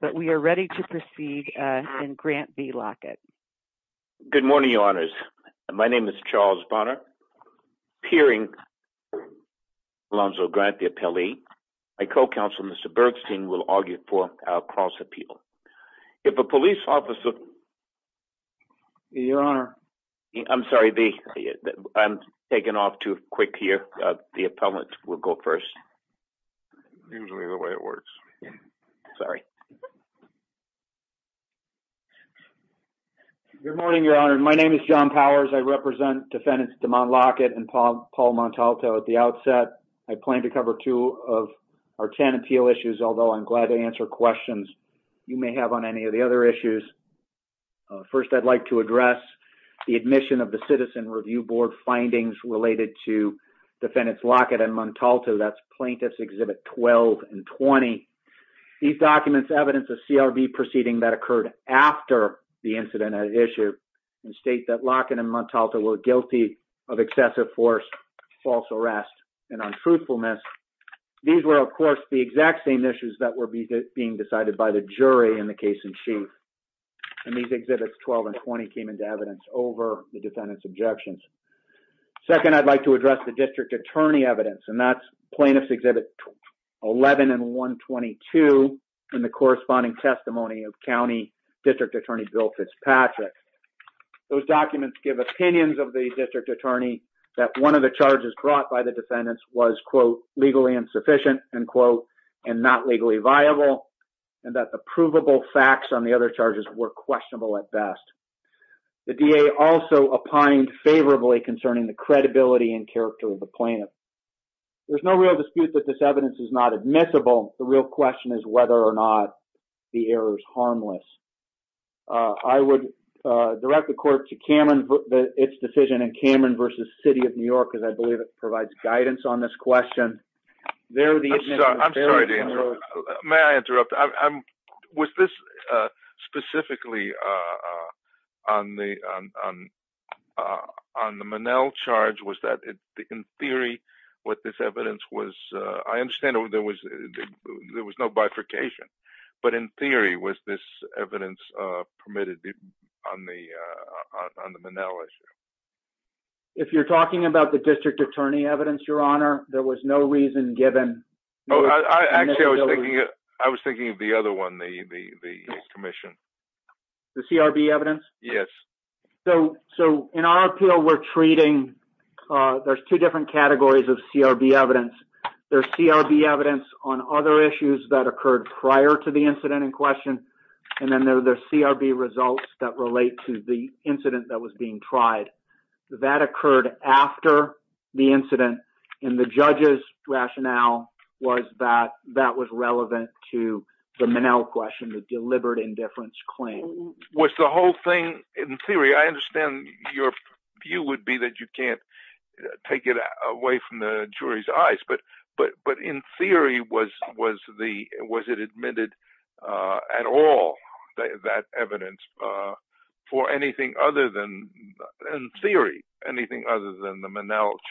but we are ready to proceed uh and grant v lockett good morning your honors my name is charles bonner peering alonzo grant the appellee my co-counsel mr bergstein will argue for our cross appeal if a police officer your honor i'm sorry the i'm taking off too quick here uh the appellant will go first usually the way it works sorry good morning your honor my name is john powers i represent defendants damon lockett and paul paul montalto at the outset i plan to cover two of our ten appeal issues although i'm glad to answer questions you may have on any of the other issues first i'd like to address the plaintiffs exhibit 12 and 20 these documents evidence of crv proceeding that occurred after the incident at issue and state that lockett and montalto were guilty of excessive force false arrest and untruthfulness these were of course the exact same issues that were being decided by the jury in the case in chief and these exhibits 12 and 20 came into evidence over the defendant's evidence and that's plaintiffs exhibit 11 and 122 in the corresponding testimony of county district attorney bill fitzpatrick those documents give opinions of the district attorney that one of the charges brought by the defendants was quote legally insufficient and quote and not legally viable and that the provable facts on the other charges were questionable at best the da also opined favorably concerning the credibility and character of the plaintiff there's no real dispute that this evidence is not admissible the real question is whether or not the error is harmless i would direct the court to cameron its decision in cameron versus city of new york because i believe it provides guidance on this question there the i'm sorry may i interrupt i'm was this uh specifically uh on the on uh on the manel charge was that in theory what this evidence was uh i understand there was there was no bifurcation but in theory was this evidence uh permitted on the uh on the manel issue if you're talking about the district attorney evidence your honor there was no reason given oh i actually i was thinking i was thinking of the other one the the the commission the crb evidence yes so so in our appeal we're treating uh there's two different categories of crb evidence there's crb evidence on other issues that occurred prior to the incident in question and then there's crb results that relate to the incident that was being tried that occurred after the incident in the judge's rationale was that that was relevant to the manel question the deliberate indifference claim was the whole thing in theory i understand your view would be that you can't take it away from the jury's eyes but but but in theory was was the was it admitted uh at all that evidence uh for anything other than in theory anything other than the manel charge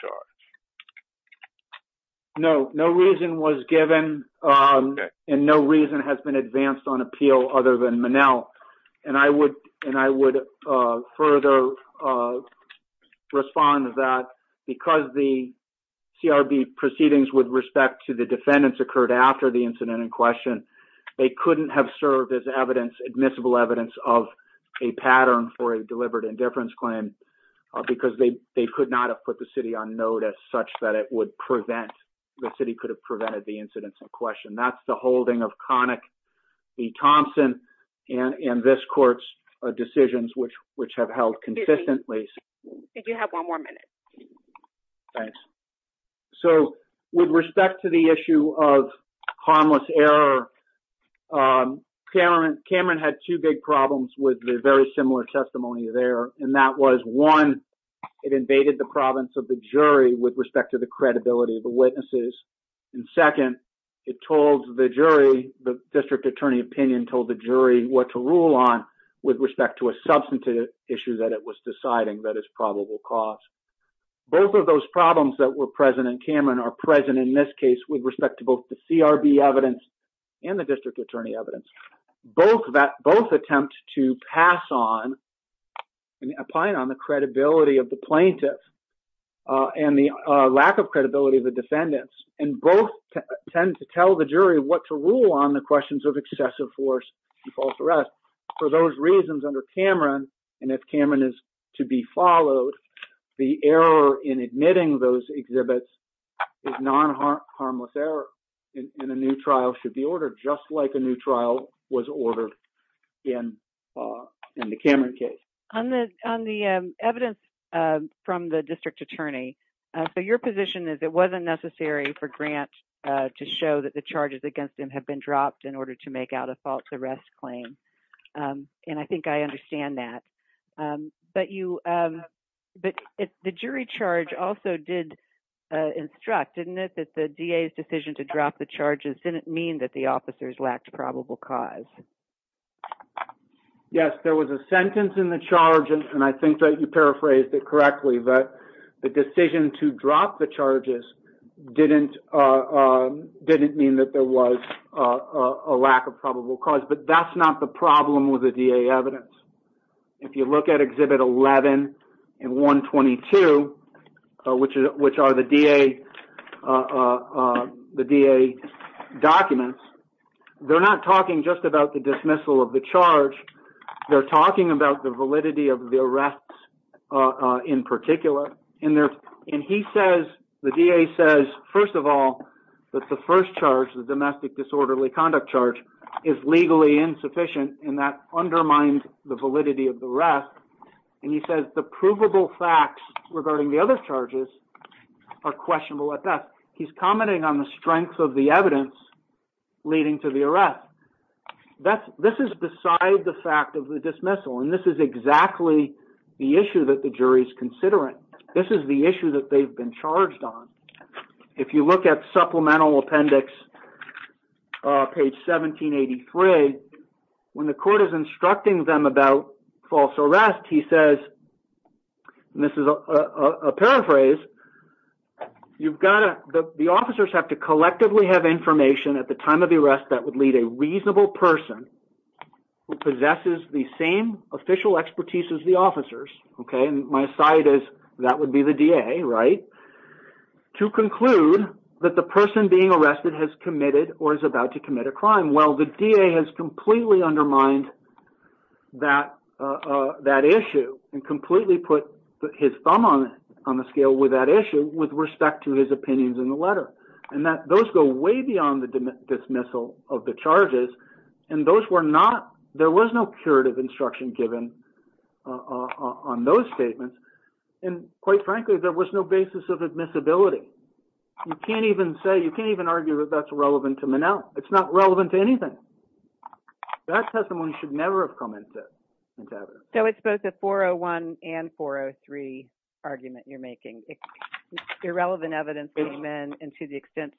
no no reason was given um and no reason has been advanced on appeal other than manel and i would and i would uh further uh respond that because the crb proceedings with respect to the defendants occurred after the incident in question they couldn't have served as evidence admissible evidence of a pattern for a deliberate indifference claim because they they could not have put the city on notice such that it would prevent the city could have prevented the incidents in question that's the holding of conic v thompson and in this court's decisions which which have consistently did you have one more minute thanks so with respect to the issue of harmless error um cameron cameron had two big problems with the very similar testimony there and that was one it invaded the province of the jury with respect to the credibility of the witnesses and second it told the jury the district attorney opinion told the jury what to rule on with respect to a issue that it was deciding that is probable cause both of those problems that were present in cameron are present in this case with respect to both the crb evidence and the district attorney evidence both that both attempt to pass on and applying on the credibility of the plaintiff uh and the uh lack of credibility of the defendants and both tend to tell the jury what to and if cameron is to be followed the error in admitting those exhibits is non-harm harmless error and a new trial should be ordered just like a new trial was ordered in uh in the cameron case on the on the um evidence uh from the district attorney uh so your position is it wasn't necessary for grant uh to show that the charges against him have been dropped in order to make out a false arrest claim um and i think i understand that um but you um but the jury charge also did uh instruct didn't it that the da's decision to drop the charges didn't mean that the officers lacked probable cause yes there was a sentence in the charge and i think that you paraphrased it correctly but the decision to drop the charges didn't uh didn't mean that there was a lack of probable cause but that's not the problem with the da evidence if you look at exhibit 11 and 122 which is which are the da uh uh the da documents they're not talking just about the dismissal of the charge they're talking about the validity of the arrests uh uh in particular in there and he says the da says first of all that the first charge the domestic disorderly conduct charge is legally insufficient and that undermined the validity of the rest and he says the provable facts regarding the other charges are questionable at best he's commenting on the strength of the evidence leading to the arrest that's this is beside the fact of the this is the issue that they've been charged on if you look at supplemental appendix uh page 1783 when the court is instructing them about false arrest he says this is a a paraphrase you've got to the officers have to collectively have information at the time of the arrest that would lead a reasonable person who possesses the same official expertise as the officers okay and my side is that would be the da right to conclude that the person being arrested has committed or is about to commit a crime well the da has completely undermined that uh that issue and completely put his thumb on it on the scale with that issue with respect to his opinions in the letter and that those go way beyond the dismissal of the charges and those were not there was no curative instruction given uh on those statements and quite frankly there was no basis of admissibility you can't even say you can't even argue that that's relevant to manel it's not relevant to anything that testimony should never have come into it so it's both a 401 and 403 argument you're making irrelevant evidence came in and to the extent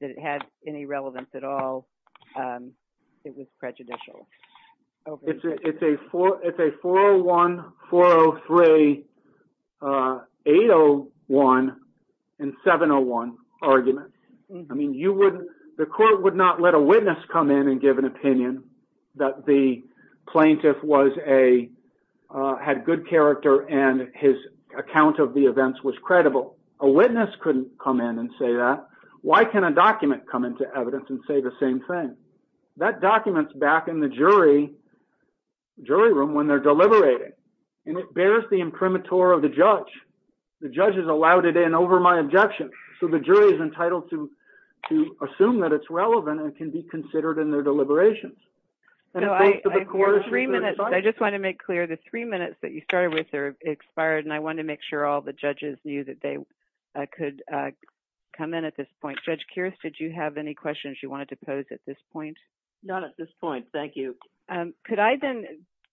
that it had any relevance at all um it was prejudicial it's a it's a four it's a 401 403 uh 801 and 701 argument i mean you wouldn't the court would not let a witness come in and give an opinion that the plaintiff was a uh had good character and his account of the events was credible a witness couldn't come in and say that why can a document come into evidence and say the same thing that document's back in the jury jury room when they're deliberating and it bears the imprimatur of the judge the judge has allowed it in over my objection so the jury is entitled to to assume that it's relevant and can be considered in their deliberations so i for three minutes i just want to make clear the three minutes that you started with are i could uh come in at this point judge kears did you have any questions you wanted to pose at this point not at this point thank you um could i then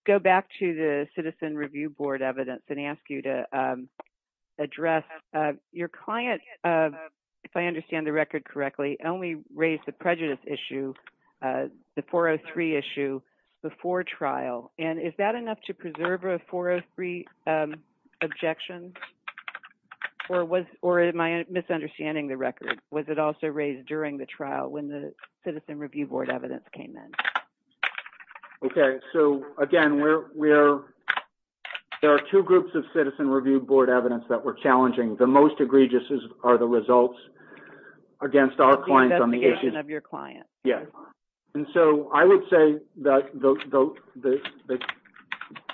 go back to the citizen review board evidence and ask you to um address uh your client uh if i understand the record correctly only raised the prejudice issue uh the 403 issue before trial and is that enough to preserve a 403 um objections or was or am i misunderstanding the record was it also raised during the trial when the citizen review board evidence came in okay so again we're we're there are two groups of citizen review board evidence that were challenging the most egregious are the results against our clients on the issue of your client yeah and so i would say that the the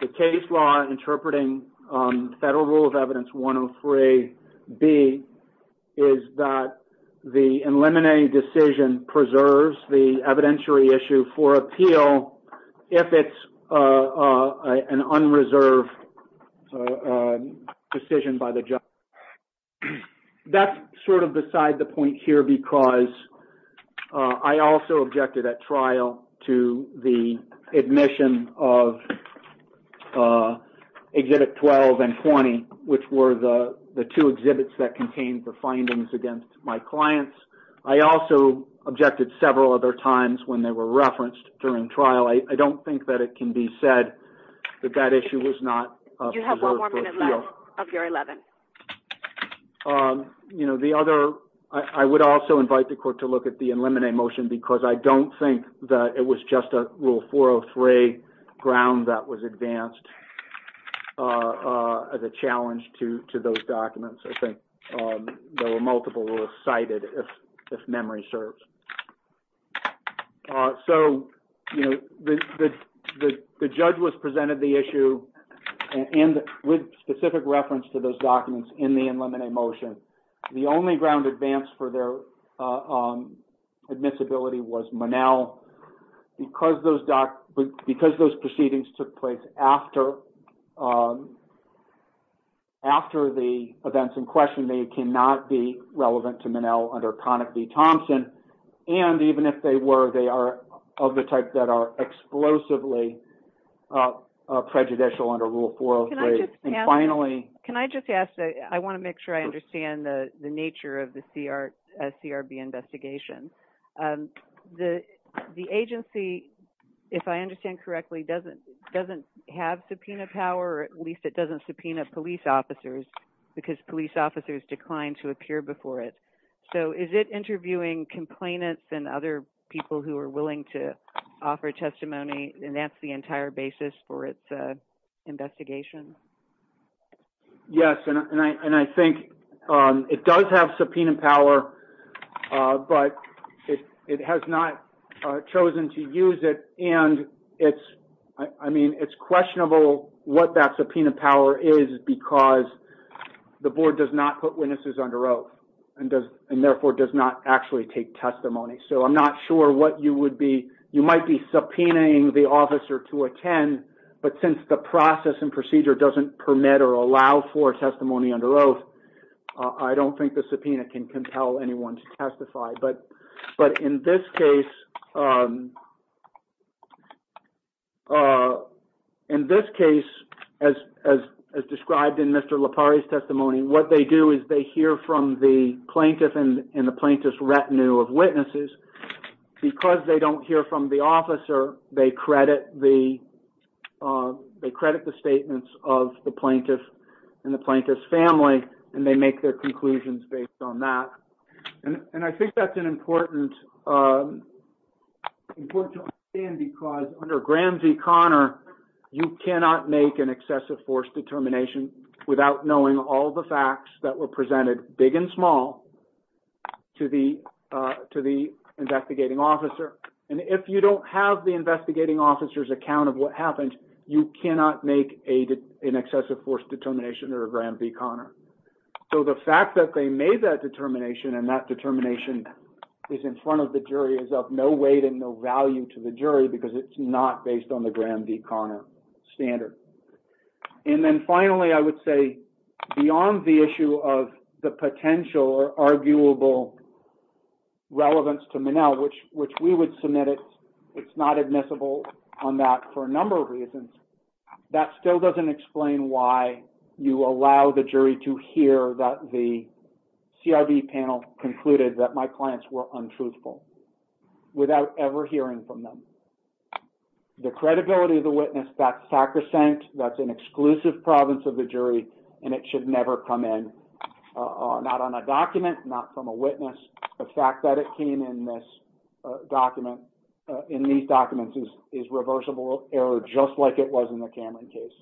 the case law interpreting um rule of evidence 103 b is that the eliminating decision preserves the evidentiary issue for appeal if it's uh an unreserved decision by the judge that's sort of beside the point here because uh i also objected at trial to the admission of uh exhibit 12 and 20 which were the the two exhibits that contained the findings against my clients i also objected several other times when they were referenced during trial i don't think that it can be said that that issue was not you have one more minute left of your 11th um you know the other i would also invite the court to look at the eliminate motion because i don't think that it was just a rule 403 ground that was advanced uh uh as a challenge to to those documents i think um there were multiple rules if memory serves uh so you know the the the judge was presented the issue and with specific reference to those documents in the unlimited motion the only ground advance for their uh um admissibility was monel because those doc because those proceedings took place after um after the events in question they cannot be relevant to manel under conic v thompson and even if they were they are of the type that are explosively uh prejudicial under rule 403 and finally can i just ask that i want to make sure i understand the the nature of the cr uh crb investigation um the the agency if i understand correctly doesn't doesn't have subpoena power at least it doesn't subpoena police officers because police officers declined to appear before it so is it interviewing complainants and other people who are willing to offer testimony and that's the entire basis for its uh investigation yes and i and i think um it does have subpoena power uh but it it has not chosen to use it and it's i mean it's questionable what that subpoena power is because the board does not put witnesses under oath and does and therefore does not actually take testimony so i'm not sure what you would be you might be subpoenaing the officer to attend but since the process and procedure doesn't permit or allow for testimony under oath i don't think the subpoena can compel anyone to testify but but in this case um uh in this case as as as described in mr lapari's testimony what they do is they hear from the plaintiff and in the plaintiff's retinue of witnesses because they don't hear from the and they make their conclusions based on that and and i think that's an important um important because under gram v connor you cannot make an excessive force determination without knowing all the facts that were presented big and small to the uh to the investigating officer and if you don't have the investigating officer's account of what happened you cannot make a an excessive force determination or a gram v connor so the fact that they made that determination and that determination is in front of the jury is of no weight and no value to the jury because it's not based on the gram v connor standard and then finally i would say beyond the issue of the potential or arguable relevance to manel which which we would submit it it's not admissible on that for a number of reasons that still doesn't explain why you allow the jury to hear that the crv panel concluded that my clients were untruthful without ever hearing from them the credibility of the witness that's sacrosanct that's an exclusive province of the jury and it should never come in not on a document not from a witness the fact that it came in this document in these documents is is reversible error just like it was in the cameron case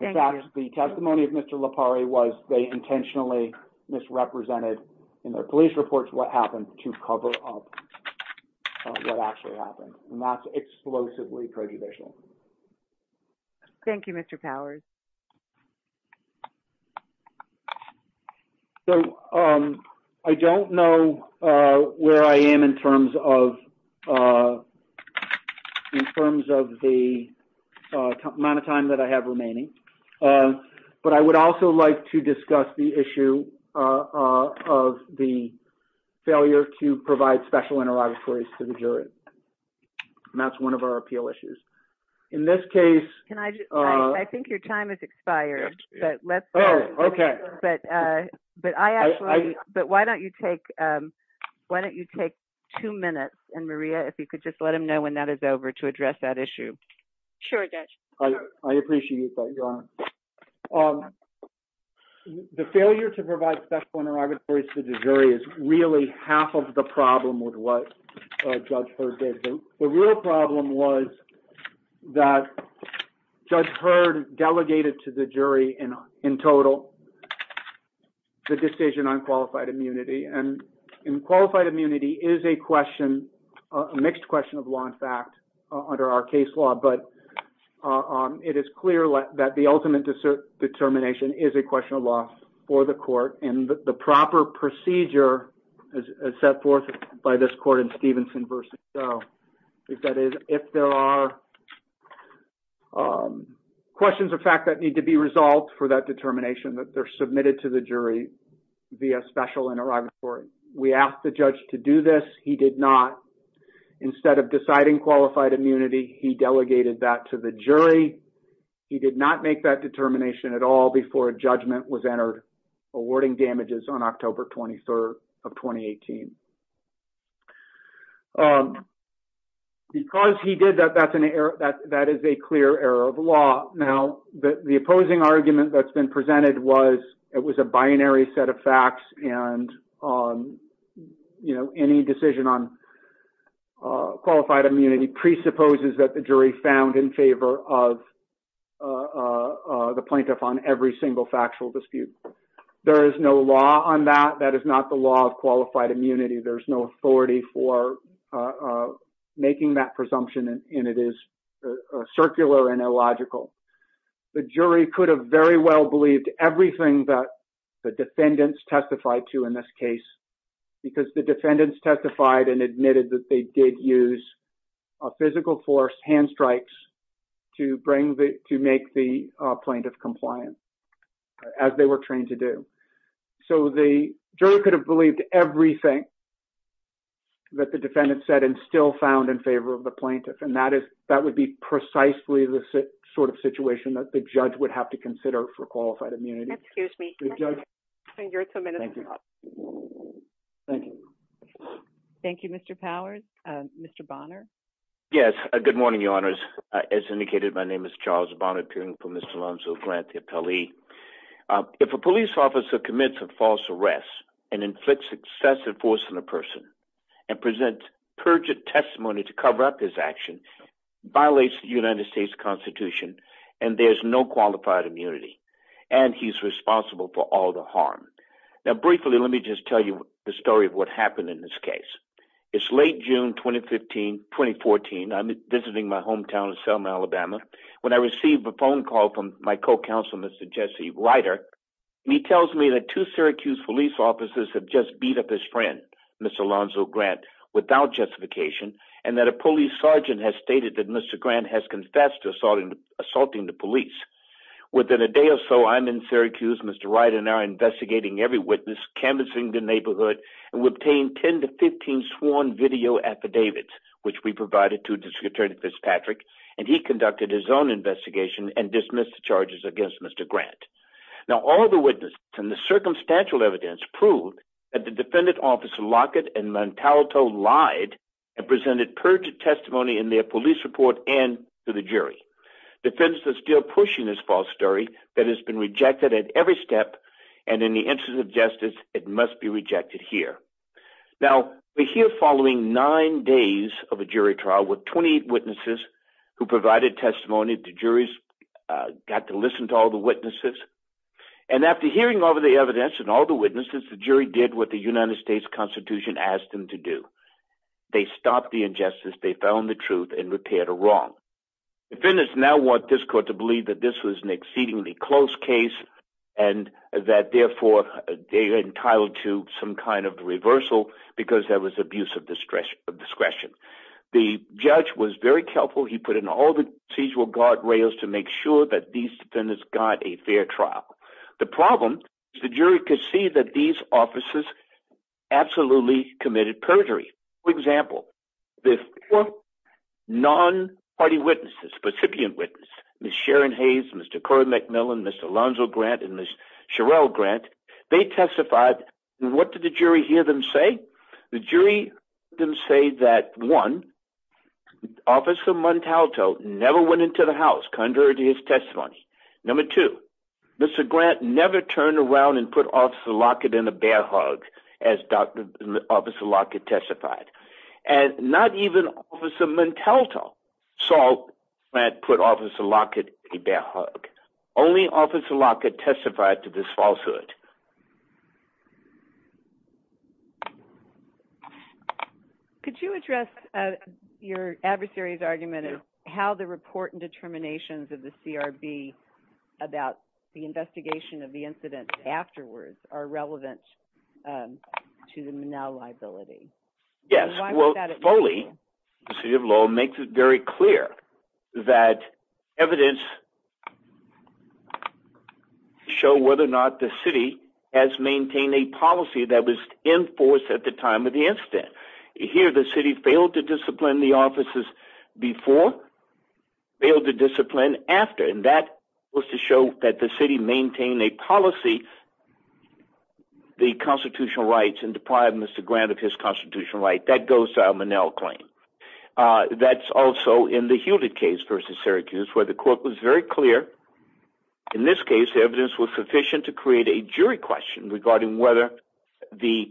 in fact the testimony of mr lapari was they intentionally misrepresented in their police reports what happened to cover up what actually happened and that's explosively prejudicial thank you mr powers so um i don't know uh where i am in terms of uh in terms of the amount of time that i have remaining but i would also like to discuss the issue uh of the failure to provide special interrogatories to the jury and that's one of our appeal issues in this case can i just i think your time has expired but let's oh okay but uh but i actually but why don't you take um why don't you take two minutes and maria if you could just let him know when that is over to address that issue sure i appreciate that your honor um the failure to provide special interrogatories to the jury is really half of the problem with what judge heard the real problem was that judge heard delegated to the jury in in total the decision on qualified immunity and in qualified immunity is a question a mixed question of law in fact under our case law but um it is clear that the ultimate determination is a question of law for the court and the proper procedure as set forth by this court in stevenson versus so if that is if there are um questions of fact that need to be resolved for that determination that they're submitted to the jury via special interrogatory we asked the judge to do this he did not instead of deciding qualified immunity he delegated that to the jury he did not make that determination at all before judgment was entered awarding damages on october 23rd of 2018 um because he did that that's an error that that is a clear error of law now the opposing argument that's been presented was it was a binary set of facts and um you know any decision on qualified immunity presupposes that the jury found in favor of uh uh the plaintiff on every single factual dispute there is no law on that that is not the law of qualified immunity there's no authority for uh making that presumption and it is a circular and illogical the jury could have very well believed everything that the defendants testified to in this case because the defendants testified and admitted that they did use a physical force hand strikes to bring the to make the plaintiff compliant as they were trained to do so the jury could have believed everything that the defendant said and found in favor of the plaintiff and that is that would be precisely the sort of situation that the judge would have to consider for qualified immunity excuse me thank you thank you thank you mr powers uh mr bonner yes uh good morning your honors as indicated my name is charles bonner appearing for miss alonzo grant the appellee if a police officer commits a false arrest and inflicts excessive force on a person and presents perjured testimony to cover up his action violates the united states constitution and there's no qualified immunity and he's responsible for all the harm now briefly let me just tell you the story of what happened in this case it's late june 2015 2014 i'm visiting my hometown of selma alabama when i received a phone call from my co-counsel mr jesse writer he tells me that two syracuse police officers have just beat up his friend mr alonzo grant without justification and that a police sergeant has stated that mr grant has confessed to assaulting assaulting the police within a day or so i'm in syracuse mr wright and i're investigating every witness canvassing the neighborhood and we obtained 10 to 15 sworn video affidavits which we provided to district attorney fitzpatrick and he conducted his own investigation and dismissed the charges against mr grant now all the witnesses and the circumstantial evidence proved that the defendant officer lockett and montalito lied and presented perjured testimony in their police report and to the jury defense is still pushing this false story that has been rejected at every step and in the interest of justice it must be rejected here now we're here following nine days of a jury trial with 28 witnesses who provided testimony the juries uh got to listen to all the witnesses and after hearing over the evidence and all the witnesses the jury did what the united states constitution asked them to do they stopped the injustice they found the truth and repaired a wrong defendants now want this court to believe that this was an exceedingly close case and that therefore they're entitled to some kind of reversal because there was abuse of discretion of discretion the judge was very careful he put in all the procedural guard rails to make sure that these defendants got a fair trial the problem is the jury could see that these officers absolutely committed perjury for example the four non-party witnesses recipient witness miss sharon hayes mr cory mcmillan mr lonzo grant and miss sherelle grant they testified what did the jury hear them say the jury didn't say that one officer montalto never went into the house contrary to his testimony number two mr grant never turned around and put officer lockett in a bear hug as dr officer lockett testified and not to this falsehood could you address uh your adversary's argument is how the report and determinations of the crb about the investigation of the incident afterwards are relevant um to the manel liability yes well foley the city of lowell makes it very clear that evidence to show whether or not the city has maintained a policy that was enforced at the time of the incident here the city failed to discipline the officers before failed to discipline after and that was to show that the city maintained a policy the constitutional rights and deprived mr grant of his constitutional right that goes to our manel claim uh that's also in the hewlett case versus syracuse where the court was very clear in this case the evidence was sufficient to create a jury question regarding whether the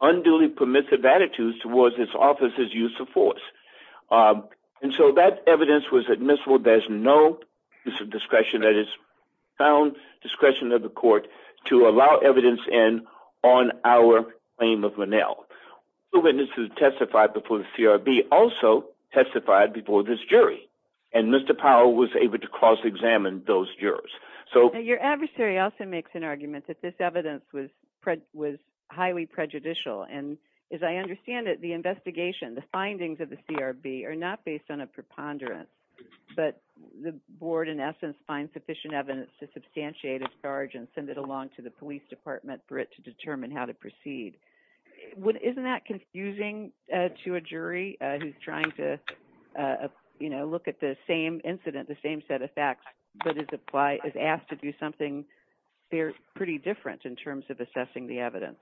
unduly permissive attitudes towards this office's use of force and so that evidence was admissible there's no use of discretion that is found discretion of the court to allow evidence in on our claim of manel witnesses testified before the crb also testified before this jury and mr powell was able to cross-examine those jurors so your adversary also makes an argument that this evidence was was highly prejudicial and as i understand it the investigation the findings of the crb are not based on a preponderance but the board in essence finds sufficient evidence to substantiate a charge and send it along to the jury who's trying to uh you know look at the same incident the same set of facts but is apply is asked to do something they're pretty different in terms of assessing the evidence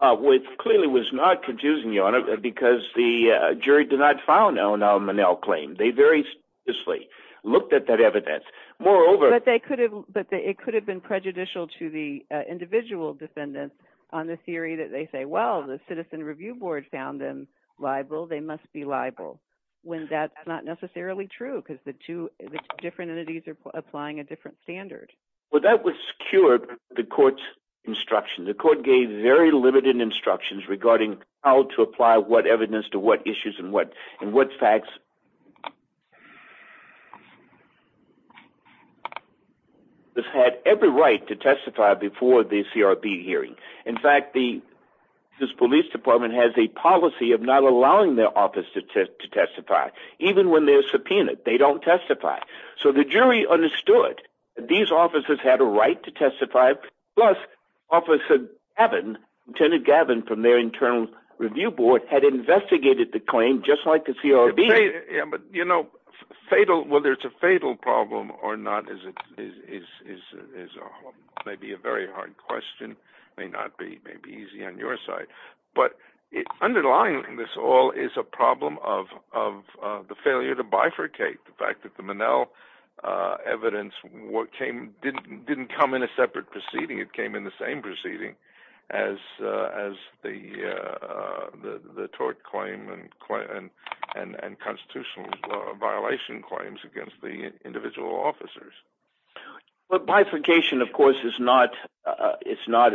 uh which clearly was not confusing your honor because the jury did not file no no manel claim they very seriously looked at that evidence moreover but they could have but it could have been prejudicial to the they must be liable when that's not necessarily true because the two different entities are applying a different standard well that was secured the court's instruction the court gave very limited instructions regarding how to apply what evidence to what issues and what and what facts this had every right to testify before the crb hearing in fact the this police department has a policy of not allowing their office to testify even when they're subpoenaed they don't testify so the jury understood these officers had a right to testify plus officer gavin lieutenant gavin from their internal review board had investigated the claim just like the crb but you know fatal whether it's a fatal problem or not is it is is is a maybe a very hard question may not be may be easy on your side but underlying this all is a problem of of the failure to bifurcate the fact that the manel uh evidence what came didn't didn't come in a separate proceeding it came in the same proceeding as uh as the uh the the tort claim and and and constitutional violation claims against the individual officers but bifurcation of course is not uh it's not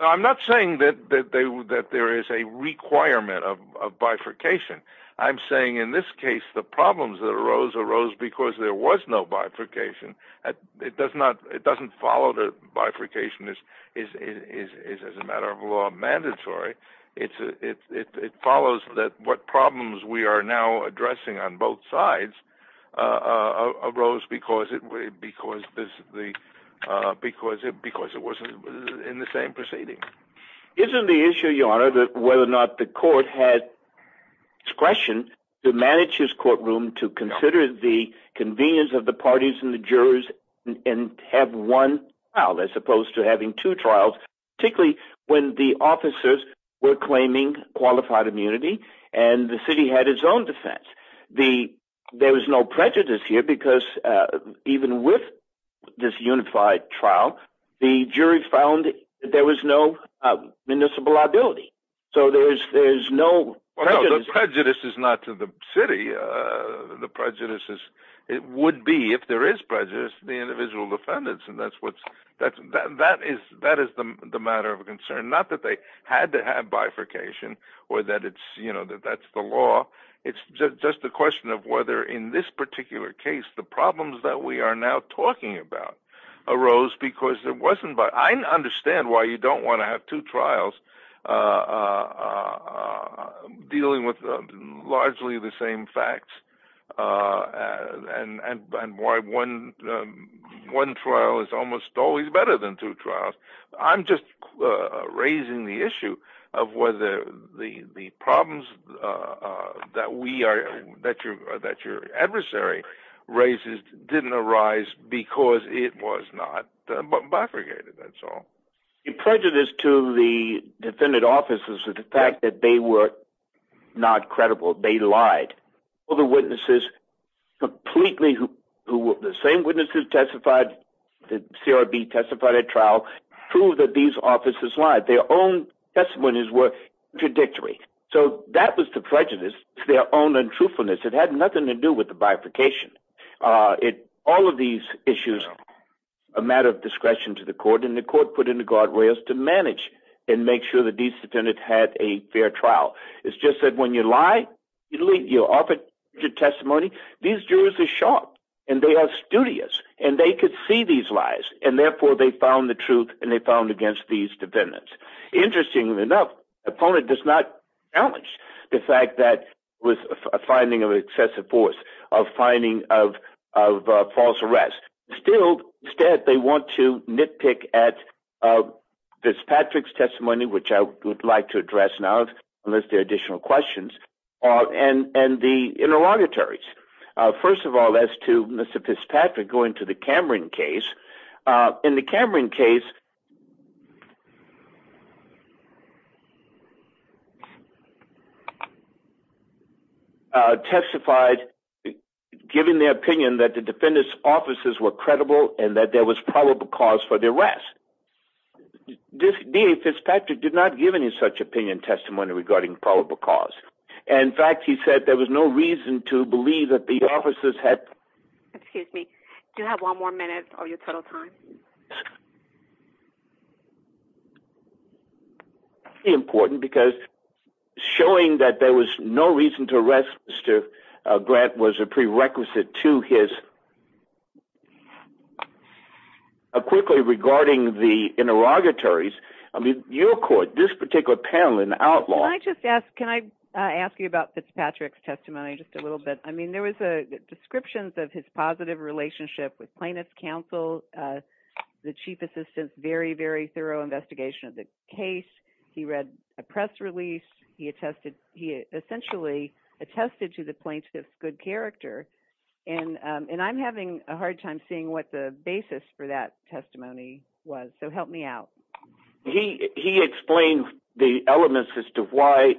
i'm not saying that that they that there is a requirement of of bifurcation i'm saying in this case the problems that arose arose because there was no bifurcation that it does not it doesn't follow the bifurcation is is is is as a matter of law mandatory it's it it follows that what problems we are now addressing on both sides uh arose because it because this the uh because it because it wasn't in the same proceeding isn't the issue your honor that whether or not the court had discretion to manage his courtroom to consider the convenience of the parties and the jurors and have one trial as opposed to having two trials particularly when the officers were claiming qualified immunity and the city had its own defense the there was prejudice here because uh even with this unified trial the jury found there was no municipal liability so there's there's no prejudice is not to the city uh the prejudices it would be if there is prejudice the individual defendants and that's what's that's that that is that is the the matter of concern not that they had to have bifurcation or that it's you know that that's the law it's just just a question of whether in this particular case the problems that we are now talking about arose because there wasn't but i understand why you don't want to have two trials uh uh dealing with largely the same facts uh and and and why one one trial is than two trials i'm just uh raising the issue of whether the the problems uh uh that we are that you're that your adversary raises didn't arise because it was not bifurcated that's all the prejudice to the defendant officers is the fact that they were not credible they lied all the witnesses completely who were the same witnesses testified the crb testified at trial proved that these officers lied their own testimonies were contradictory so that was the prejudice their own untruthfulness it had nothing to do with the bifurcation uh it all of these issues a matter of discretion to the court and the court put into guardrails to manage and testimony these jurors are sharp and they are studious and they could see these lies and therefore they found the truth and they found against these defendants interestingly enough opponent does not challenge the fact that was a finding of excessive force of finding of of false arrest still instead they want to nitpick at uh this patrick's testimony which i would like address now unless there are additional questions uh and and the interrogatories first of all as to mr fitzpatrick going to the cameron case uh in the cameron case uh testified giving their opinion that the defendant's officers were credible and that was probable cause for the arrest this da fitzpatrick did not give any such opinion testimony regarding probable cause and in fact he said there was no reason to believe that the officers had excuse me do you have one more minute of your total time important because showing that there was no reason to arrest mr grant was a prerequisite to his quickly regarding the interrogatories i mean your court this particular panel in outlaw can i just ask can i ask you about fitzpatrick's testimony just a little bit i mean there was a descriptions of his positive relationship with plaintiff's counsel uh the chief assistant's very very thorough investigation of the case he read a press release he attested he essentially attested to the plaintiff's good character and um and i'm having a hard time seeing what the basis for that testimony was so help me out he he explained the elements as to why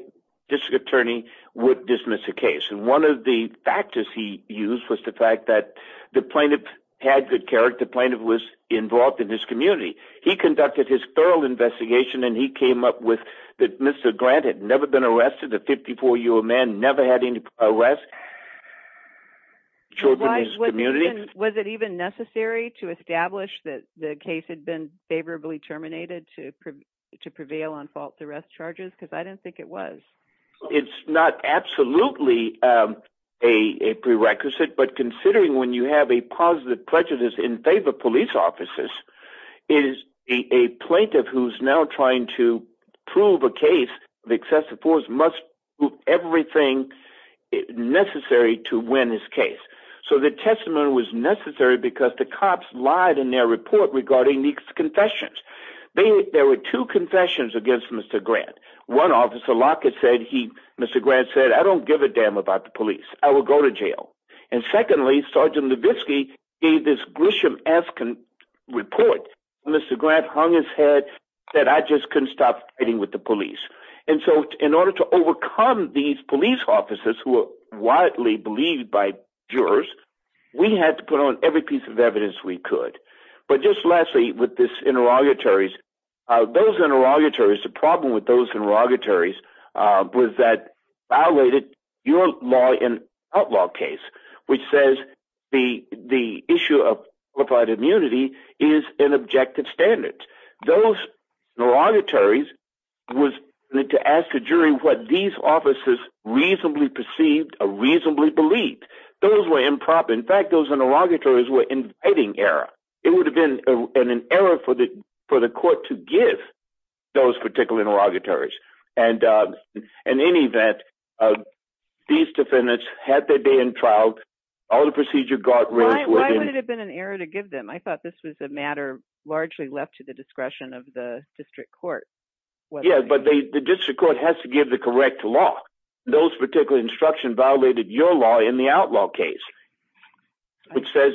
district attorney would dismiss the case and one of the factors he used was the fact that the plaintiff had good character plaintiff was involved in this community he conducted his thorough investigation and he came up with that mr grant had never been arrested a 54 year old never had any arrest children his community was it even necessary to establish that the case had been favorably terminated to to prevail on false arrest charges because i didn't think it was it's not absolutely um a a prerequisite but considering when you have a positive prejudice in favor police officers is a plaintiff who's now trying to prove a case of excessive force must prove everything necessary to win his case so the testimony was necessary because the cops lied in their report regarding these confessions they there were two confessions against mr grant one officer lockett said he mr grant said i don't give a damn about the police i will go to jail and secondly sergeant levisky gave this grisham asking report mr grant hung his head said i just couldn't stop fighting with the police and so in order to overcome these police officers who are widely believed by jurors we had to put on every piece of evidence we could but just lastly with this interrogatories uh those interrogatories the problem with those interrogatories uh was that violated your law in outlaw case which says the the issue of qualified immunity is in objective standards those interrogatories was to ask the jury what these offices reasonably perceived or reasonably believed those were improper in fact those interrogatories were inviting error it would have been an error for the for the court to give those particular interrogatories and uh in any event uh these defendants had their day in trial all the was a matter largely left to the discretion of the district court yeah but they the district court has to give the correct law those particular instruction violated your law in the outlaw case which says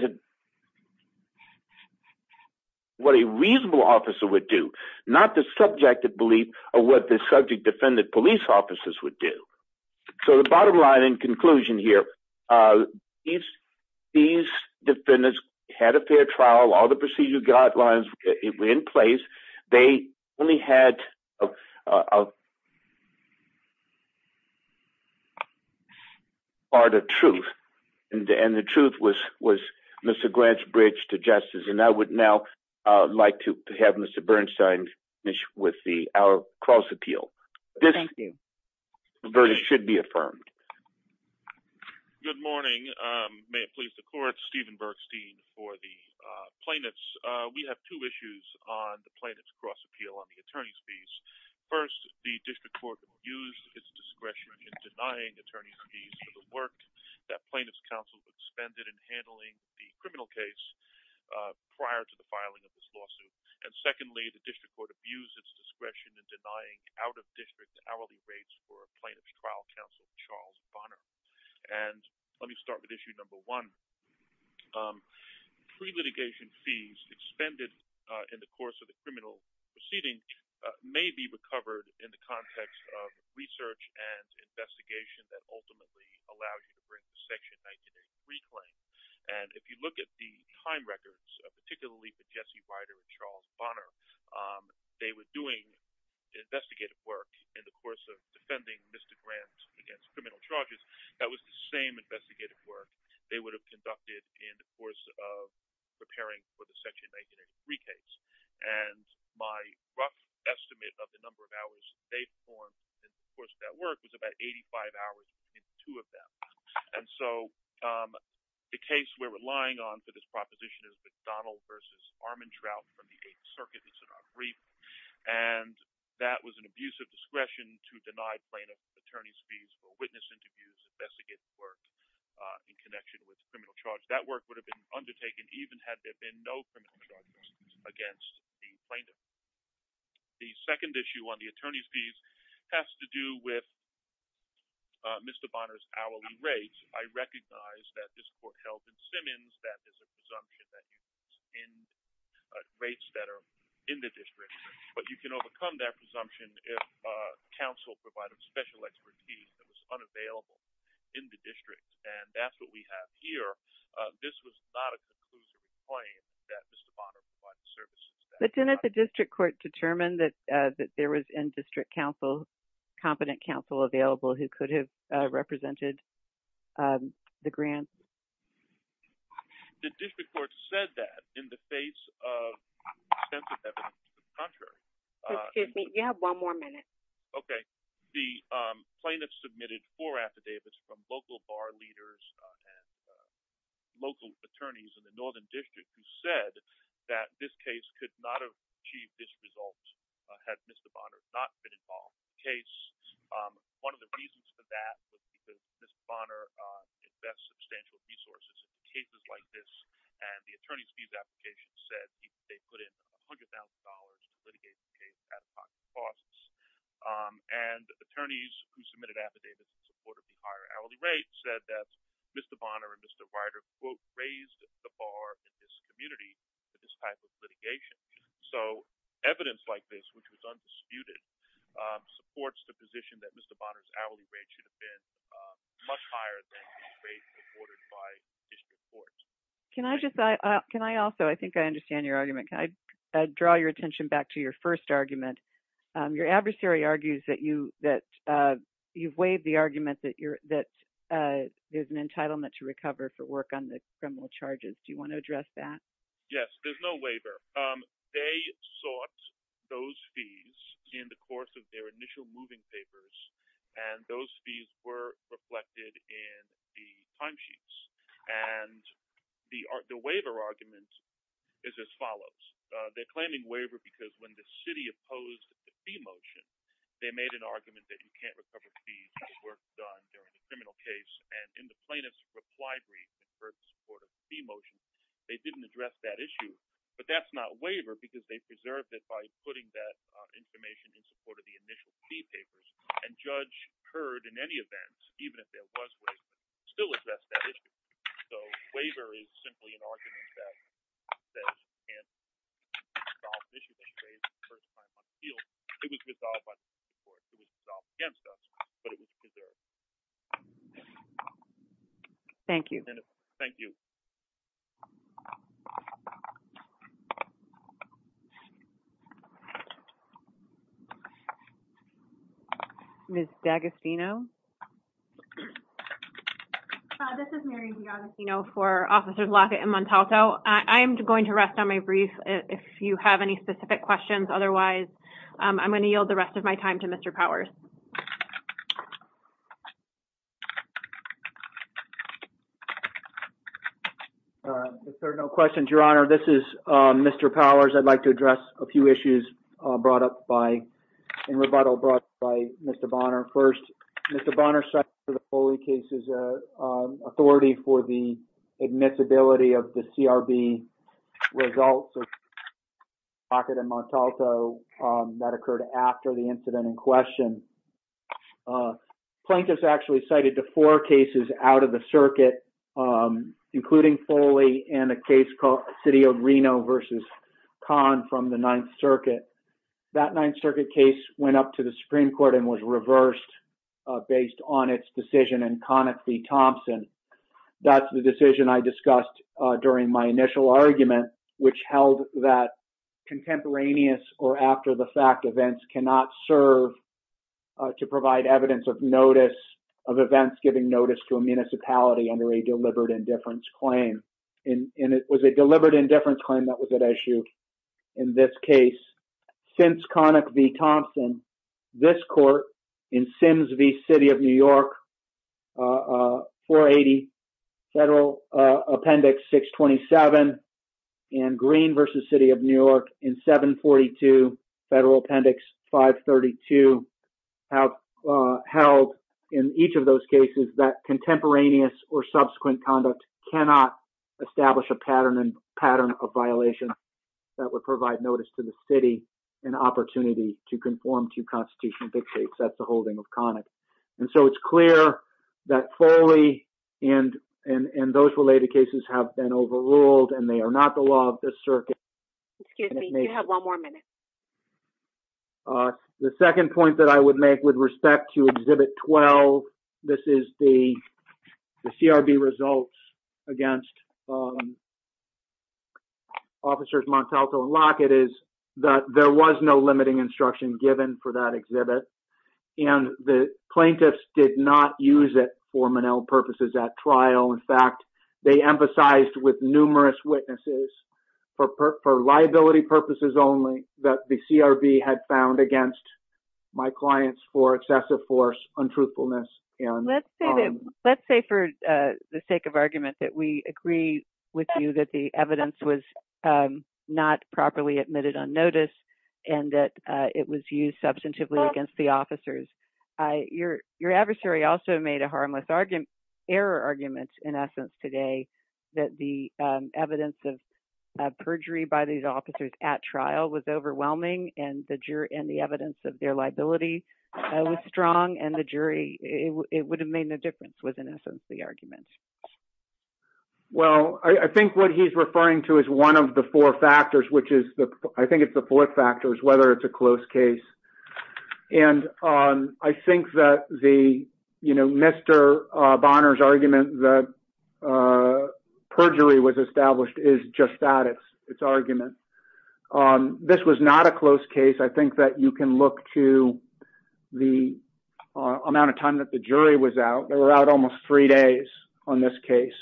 what a reasonable officer would do not the subjective belief of what the subject defendant police officers would do so the bottom line in conclusion here uh these these defendants had a fair trial all the procedure guidelines were in place they only had a part of truth and the truth was was mr grant's bridge to justice and i would now uh like to have mr bernstein finish with the our cross appeal thank you the verdict should be plaintiff's uh we have two issues on the plaintiff's cross appeal on the attorney's fees first the district court abused its discretion in denying attorney's fees for the work that plaintiff's counsel expended in handling the criminal case uh prior to the filing of this lawsuit and secondly the district court abused its discretion in denying out of district hourly rates for a plaintiff's trial counsel charles bonner and let me start with issue number one um pre-litigation fees expended uh in the course of the criminal proceeding may be recovered in the context of research and investigation that ultimately allow you to bring section 1983 claim and if you look at the time records particularly for jesse rider and charles bonner um they were doing investigative work in the course of defending mr grant against criminal charges that was the same investigative work they would have conducted in the course of preparing for the section 1983 case and my rough estimate of the number of hours they performed in the course of that work was about 85 hours in two of them and so um the case we're relying on for this proposition is mcdonald versus armand trout from the eighth circuit it's in our brief and that was an abusive discretion to deny plaintiff attorney's fees for witness interviews investigating work uh in connection with criminal charge that work would have been undertaken even had there been no criminal charges against the plaintiff the second issue on the attorney's fees has to do with mr bonner's hourly rates i recognize that this court held in simmons that there's a presumption that he was in rates that are in the district but you can overcome that presumption if uh council provided special expertise that was unavailable in the district and that's what we have here uh this was not a conclusive claim that mr bonner provided services but then at the district court determined that uh that there was in district council competent counsel available who could have uh represented um the grant the district court said that in the face of extensive evidence contrary excuse me you have one more minute okay the um plaintiff submitted four affidavits from local bar leaders and local attorneys in the northern district who said that this case could not have achieved this result had mr bonner not been case um one of the reasons for that was because mr bonner invests substantial resources in cases like this and the attorney's fees application said they put in a hundred thousand dollars and attorneys who submitted affidavits in support of the higher hourly rate said that mr bonner and mr writer quote raised the bar in this community for this type of litigation so evidence like this which was undisputed supports the position that mr bonner's hourly rate should have been much higher than the rate reported by district court can i just i can i also i think i understand your argument can i draw your attention back to your first argument your adversary argues that you that uh you've waived the argument that you're that uh there's an entitlement to recover for work on the criminal charges do you want to address that yes there's no waiver um they sought those fees in the course of their initial moving papers and those fees were reflected in the timesheets and the the waiver argument is as follows uh they're claiming waiver because when the city opposed the fee motion they made an argument that you can't recover fees for the work done during the criminal case and in the plaintiff's library in support of the motion they didn't address that issue but that's not waiver because they preserved it by putting that information in support of the initial fee papers and judge heard in any event even if there was racism still addressed that issue so waiver is simply an argument that says you can't resolve the issue that you raised the first time on the field it was resolved against us but it was preserved thank you thank you miss d'agostino this is mary d'agostino for officers lockett and montalto i'm going to rest on my brief if you have any specific questions otherwise i'm going to yield the rest of my time to mr powers if there are no questions your honor this is um mr powers i'd like to address a few issues uh brought up by in rebuttal brought by mr bonner first mr bonner site for the holy case is a authority for the admissibility of the crb results pocket and montalto that occurred after the incident in question plaintiffs actually cited to four cases out of the circuit including foley and a case called city of reno versus con from the ninth circuit that ninth circuit case went up to the supreme and was reversed based on its decision and conic v thompson that's the decision i discussed during my initial argument which held that contemporaneous or after the fact events cannot serve to provide evidence of notice of events giving notice to a municipality under a deliberate indifference claim and it was a deliberate indifference claim that was at issue in this case since conic v thompson this court in sims v city of new york uh 480 federal uh appendix 627 and green versus city of new york in 742 federal appendix 532 have held in each of those cases that contemporaneous or subsequent conduct cannot establish a pattern and pattern of violation that would provide notice to the city an opportunity to conform to constitutional dictates that's the holding of conic and so it's clear that foley and and and those related cases have been overruled and they are not the law of the circuit excuse me you have one more minute the second point that i would make with respect to exhibit 12 this is the crb results against um officers montalto and lockett is that there was no limiting instruction given for that exhibit and the plaintiffs did not use it for manel purposes at trial in fact they emphasized with numerous witnesses for liability purposes only that the crb had found against my clients for excessive force untruthfulness and let's say that let's say for uh the sake argument that we agree with you that the evidence was not properly admitted on notice and that it was used substantively against the officers i your your adversary also made a harmless argument error arguments in essence today that the evidence of perjury by these officers at trial was overwhelming and the jury and the evidence of their liability was strong and the well i think what he's referring to is one of the four factors which is the i think it's the fourth factor is whether it's a close case and um i think that the you know mr uh bonner's argument that uh perjury was established is just that it's it's argument um this was not a close case i think that you can look to the amount of time that the jury was out they were out almost three days on this case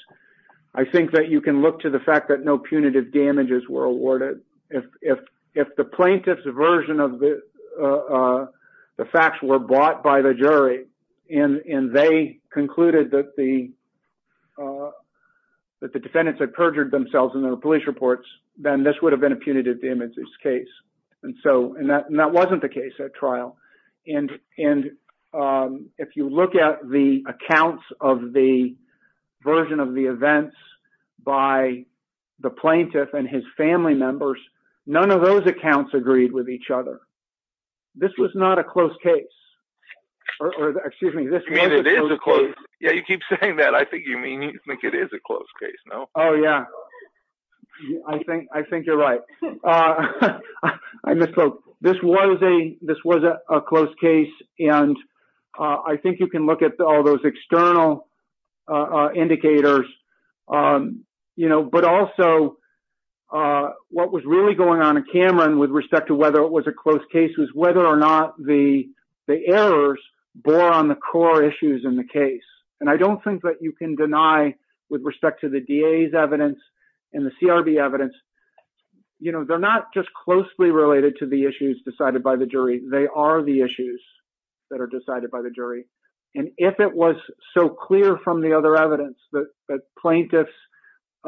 i think that you can look to the fact that no punitive damages were awarded if if if the plaintiff's version of the uh the facts were bought by the jury and and they concluded that the uh that the defendants had perjured themselves in their police reports then this would have been a punitive damages case and so and that wasn't the case at trial and and um if you look at the accounts of the version of the events by the plaintiff and his family members none of those accounts agreed with each other this was not a close case or excuse me this yeah you keep saying that i think you mean you think it is a close case no oh yeah yeah i think i think you're right uh i misspoke this was a this was a close case and uh i think you can look at all those external uh indicators um you know but also uh what was really going on in cameron with respect to whether it was a close case was whether or not the the errors bore on the core issues in the case and i don't think that you can deny with respect to the da's evidence and the crb evidence you know they're not just closely related to the issues decided by the jury they are the issues that are decided by the jury and if it was so clear from the other evidence that that plaintiffs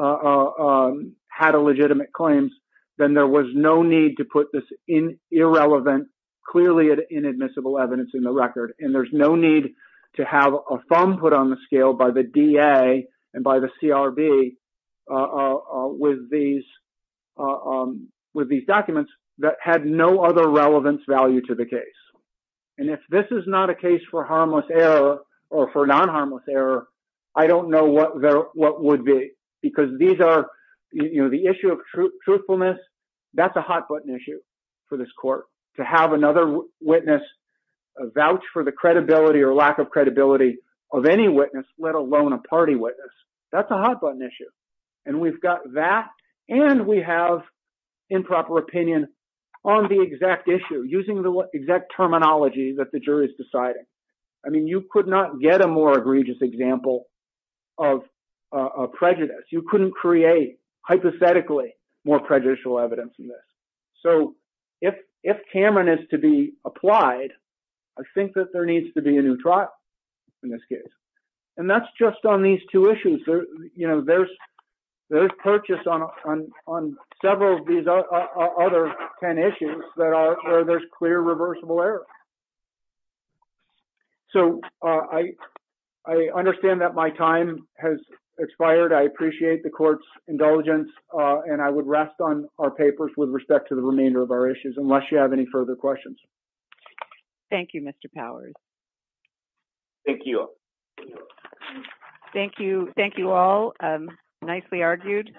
uh had a legitimate claims then there was no need to put this in irrelevant clearly inadmissible evidence in the record and there's no need to have a thumb put on the scale by the da and by the crb uh with these with these documents that had no other relevance value to the case and if this is not a case for harmless error or for non-harmless error i don't know what what would be because these are you know the issue of truthfulness that's a hot button issue for this court to have another witness vouch for the credibility or lack of credibility of any witness let alone a party witness that's a hot button issue and we've got that and we have improper opinion on the exact issue using the exact terminology that the jury is deciding i mean you could not get a more egregious example of a prejudice you couldn't create hypothetically more prejudicial evidence than this so if if amin is to be applied i think that there needs to be a new trial in this case and that's just on these two issues there you know there's there's purchase on on on several of these other 10 issues that are where there's clear reversible error so i i understand that my time has expired i appreciate the court's indulgence uh and i would rest on our papers with respect to the remainder of our issues unless you have any further questions thank you mr powers thank you thank you thank you all um nicely argued